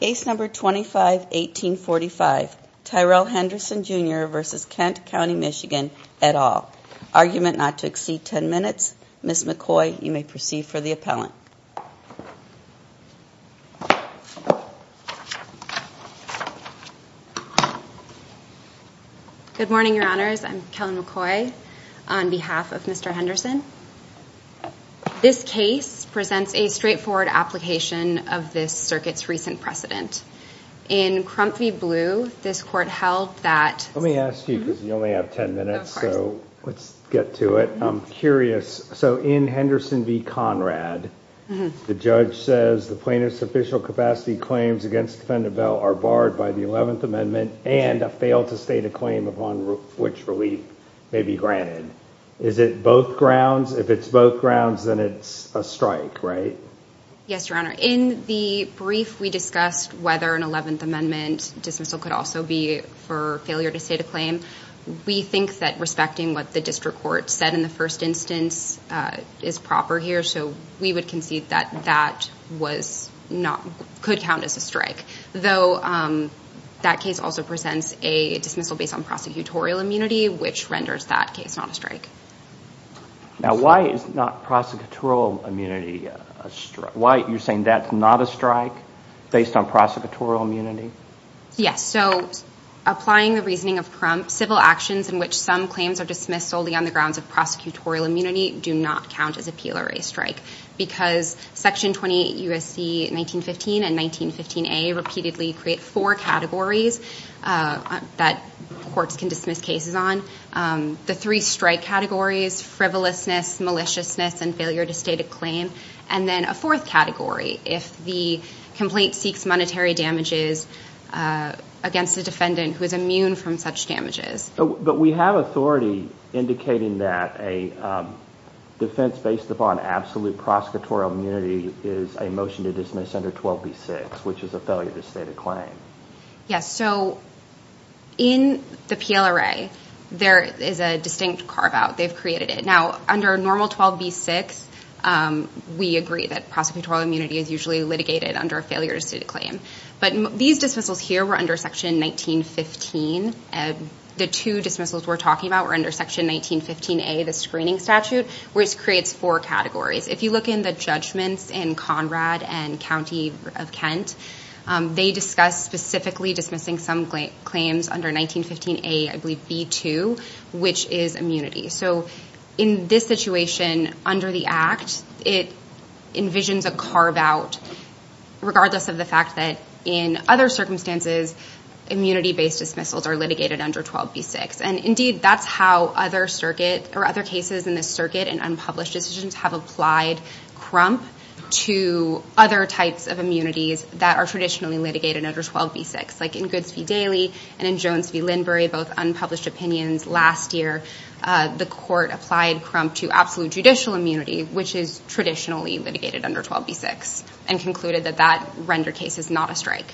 Case No. 25-1845 Tyrelle Henderson Jr v. Kent County, MI et al. Argument not to exceed 10 minutes. Ms. McCoy, you may proceed for the appellant. Good morning, Your Honors. I'm Kellen McCoy on behalf of Mr. Henderson. This case presents a straightforward application of this circuit's recent precedent. In Crump v. Blue, this court held that... Let me ask you, because you only have 10 minutes, so let's get to it. I'm curious. So, in Henderson v. Conrad, the judge says the plaintiff's official capacity claims against Fender Bell are barred by the 11th Amendment and a fail to state a claim upon which relief may be granted. Is it both grounds? If it's both grounds, then it's a strike, right? Yes, Your Honor. In the brief, we discussed whether an 11th Amendment dismissal could also be for failure to state a claim. We think that respecting what the district court said in the first instance is proper here, so we would concede that that could count as a strike. Though, that case also presents a dismissal based on prosecutorial immunity, which renders that case not a strike. Now, why is not prosecutorial immunity a strike? You're saying that's not a strike based on prosecutorial immunity? Yes. So, applying the reasoning of Crump, civil actions in which some claims are dismissed solely on the grounds of prosecutorial immunity do not count as a PLRA strike, because Section 28 U.S.C. 1915 and 1915a repeatedly create four categories that courts can dismiss cases on. The three strike categories, frivolousness, maliciousness, and failure to state a claim, and then a fourth category, if the complaint seeks monetary damages against a defendant who is immune from such damages. But we have authority indicating that a defense based upon absolute prosecutorial immunity is a motion to dismiss under 12b-6, which is a failure to state a claim. Yes. So, in the PLRA, there is a distinct carve-out. They've created it. Now, under normal 12b-6, we agree that prosecutorial immunity is usually litigated under a failure to state a claim. But these dismissals here were under Section 1915. The two dismissals we're talking about were under Section 1915a, the screening statute, which creates four categories. If you look in the judgments in Conrad and County of Kent, they discuss specifically dismissing some claims under 1915a, I believe, b-2, which is immunity. So, in this situation, under the Act, it envisions a carve-out, regardless of the fact that, in other circumstances, immunity-based dismissals are litigated under 12b-6. And, indeed, that's how other cases in this circuit and unpublished decisions have applied crump to other types of immunities that are traditionally litigated under 12b-6. Like in Goods v. Daly and in Jones v. Lindbury, both unpublished opinions. Last year, the Court applied crump to absolute judicial immunity, which is traditionally litigated under 12b-6, and concluded that that render case is not a strike.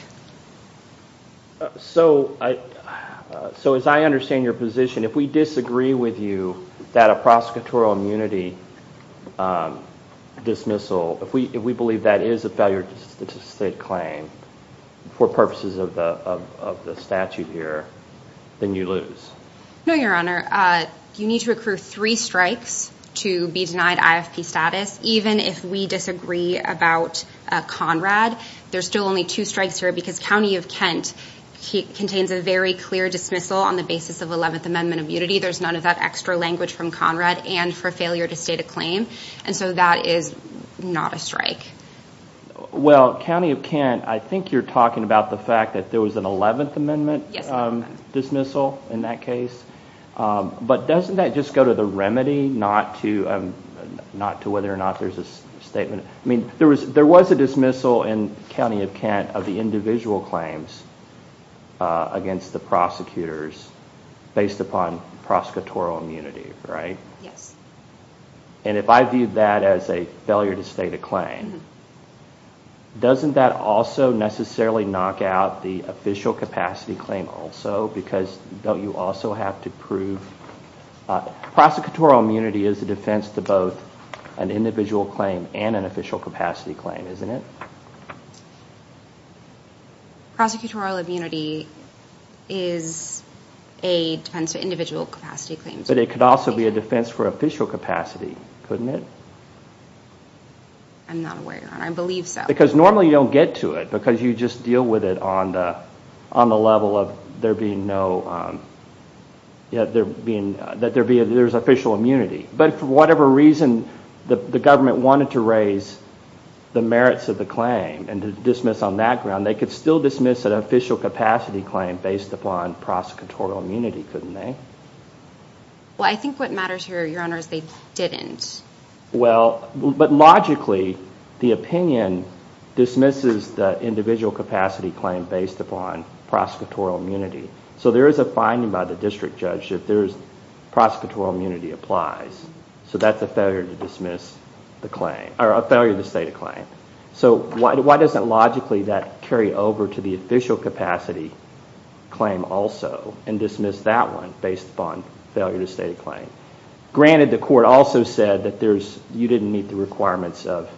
So, as I understand your position, if we disagree with you that a prosecutorial immunity dismissal, if we believe that is a failure to state claim for purposes of the statute here, then you lose. No, Your Honor. You need to accrue three strikes to be denied IFP status, even if we disagree about Conrad. There's still only two strikes here because County of Kent contains a very clear dismissal on the basis of 11th Amendment immunity. There's none of that extra language from Conrad, and for failure to state a claim, and so that is not a strike. Well, County of Kent, I think you're talking about the fact that there was an 11th Amendment dismissal in that case. But doesn't that just go to the remedy, not to whether or not there's a statement? I mean, there was a dismissal in County of Kent of the individual claims against the prosecutors based upon prosecutorial immunity, right? Yes. And if I view that as a failure to state a claim, doesn't that also necessarily knock out the official capacity claim also? Because don't you also have to prove – prosecutorial immunity is a defense to both an individual claim and an official capacity claim, isn't it? Prosecutorial immunity is a defense to individual capacity claims. But it could also be a defense for official capacity, couldn't it? I'm not aware of that. I believe so. Because normally you don't get to it because you just deal with it on the level of there being no – that there's official immunity. But for whatever reason the government wanted to raise the merits of the claim and to dismiss on that ground, they could still dismiss an official capacity claim based upon prosecutorial immunity, couldn't they? Well, I think what matters here, Your Honor, is they didn't. Well, but logically the opinion dismisses the individual capacity claim based upon prosecutorial immunity. So there is a finding by the district judge that there is – prosecutorial immunity applies. So that's a failure to dismiss the claim – or a failure to state a claim. So why doesn't logically that carry over to the official capacity claim also and dismiss that one based upon failure to state a claim? Granted, the court also said that there's – you didn't meet the requirements of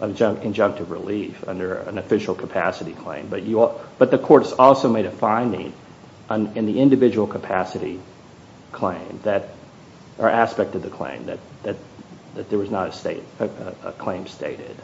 injunctive relief under an official capacity claim. But the court has also made a finding in the individual capacity claim that – or aspect of the claim that there was not a claim stated.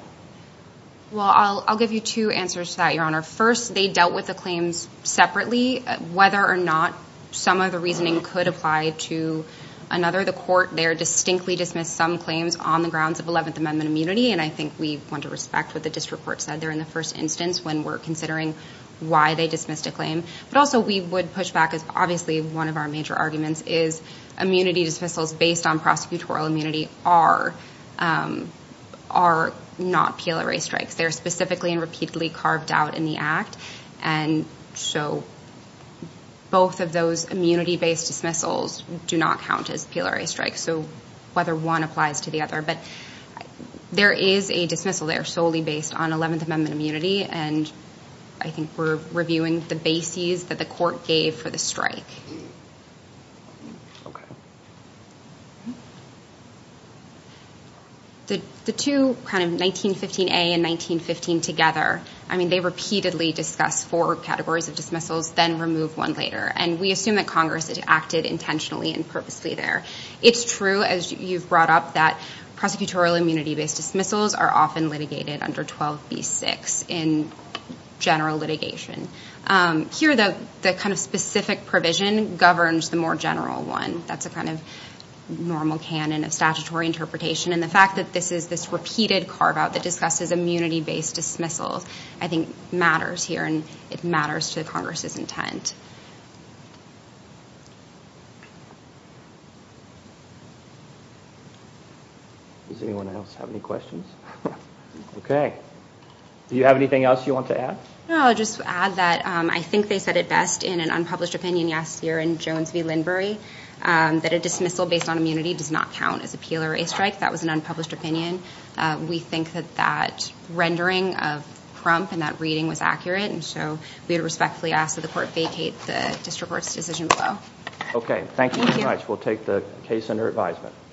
Well, I'll give you two answers to that, Your Honor. First, they dealt with the claims separately. Whether or not some of the reasoning could apply to another, the court there distinctly dismissed some claims on the grounds of Eleventh Amendment immunity. And I think we want to respect what the district court said there in the first instance when we're considering why they dismissed a claim. But also we would push back as obviously one of our major arguments is immunity dismissals based on prosecutorial immunity are not PLRA strikes. They're specifically and repeatedly carved out in the Act. And so both of those immunity-based dismissals do not count as PLRA strikes. So whether one applies to the other. But there is a dismissal there solely based on Eleventh Amendment immunity. And I think we're reviewing the bases that the court gave for the strike. Okay. The two kind of 1915A and 1915 together, I mean, they repeatedly discuss four categories of dismissals, then remove one later. And we assume that Congress acted intentionally and purposely there. It's true, as you've brought up, that prosecutorial immunity-based dismissals are often litigated under 12b-6 in general litigation. Here the kind of specific provision governs the more general one. That's a kind of normal canon of statutory interpretation. And the fact that this is this repeated carve-out that discusses immunity-based dismissals I think matters here. And it matters to Congress's intent. Does anyone else have any questions? Okay. Do you have anything else you want to add? No, I'll just add that I think they said it best in an unpublished opinion yesterday in Jones v. Lindbury. That a dismissal based on immunity does not count as appeal or a strike. That was an unpublished opinion. We think that that rendering of Crump and that reading was accurate. And so we would respectfully ask that the court vacate the district court's decision below. Okay. Thank you very much. We'll take the case under advisement.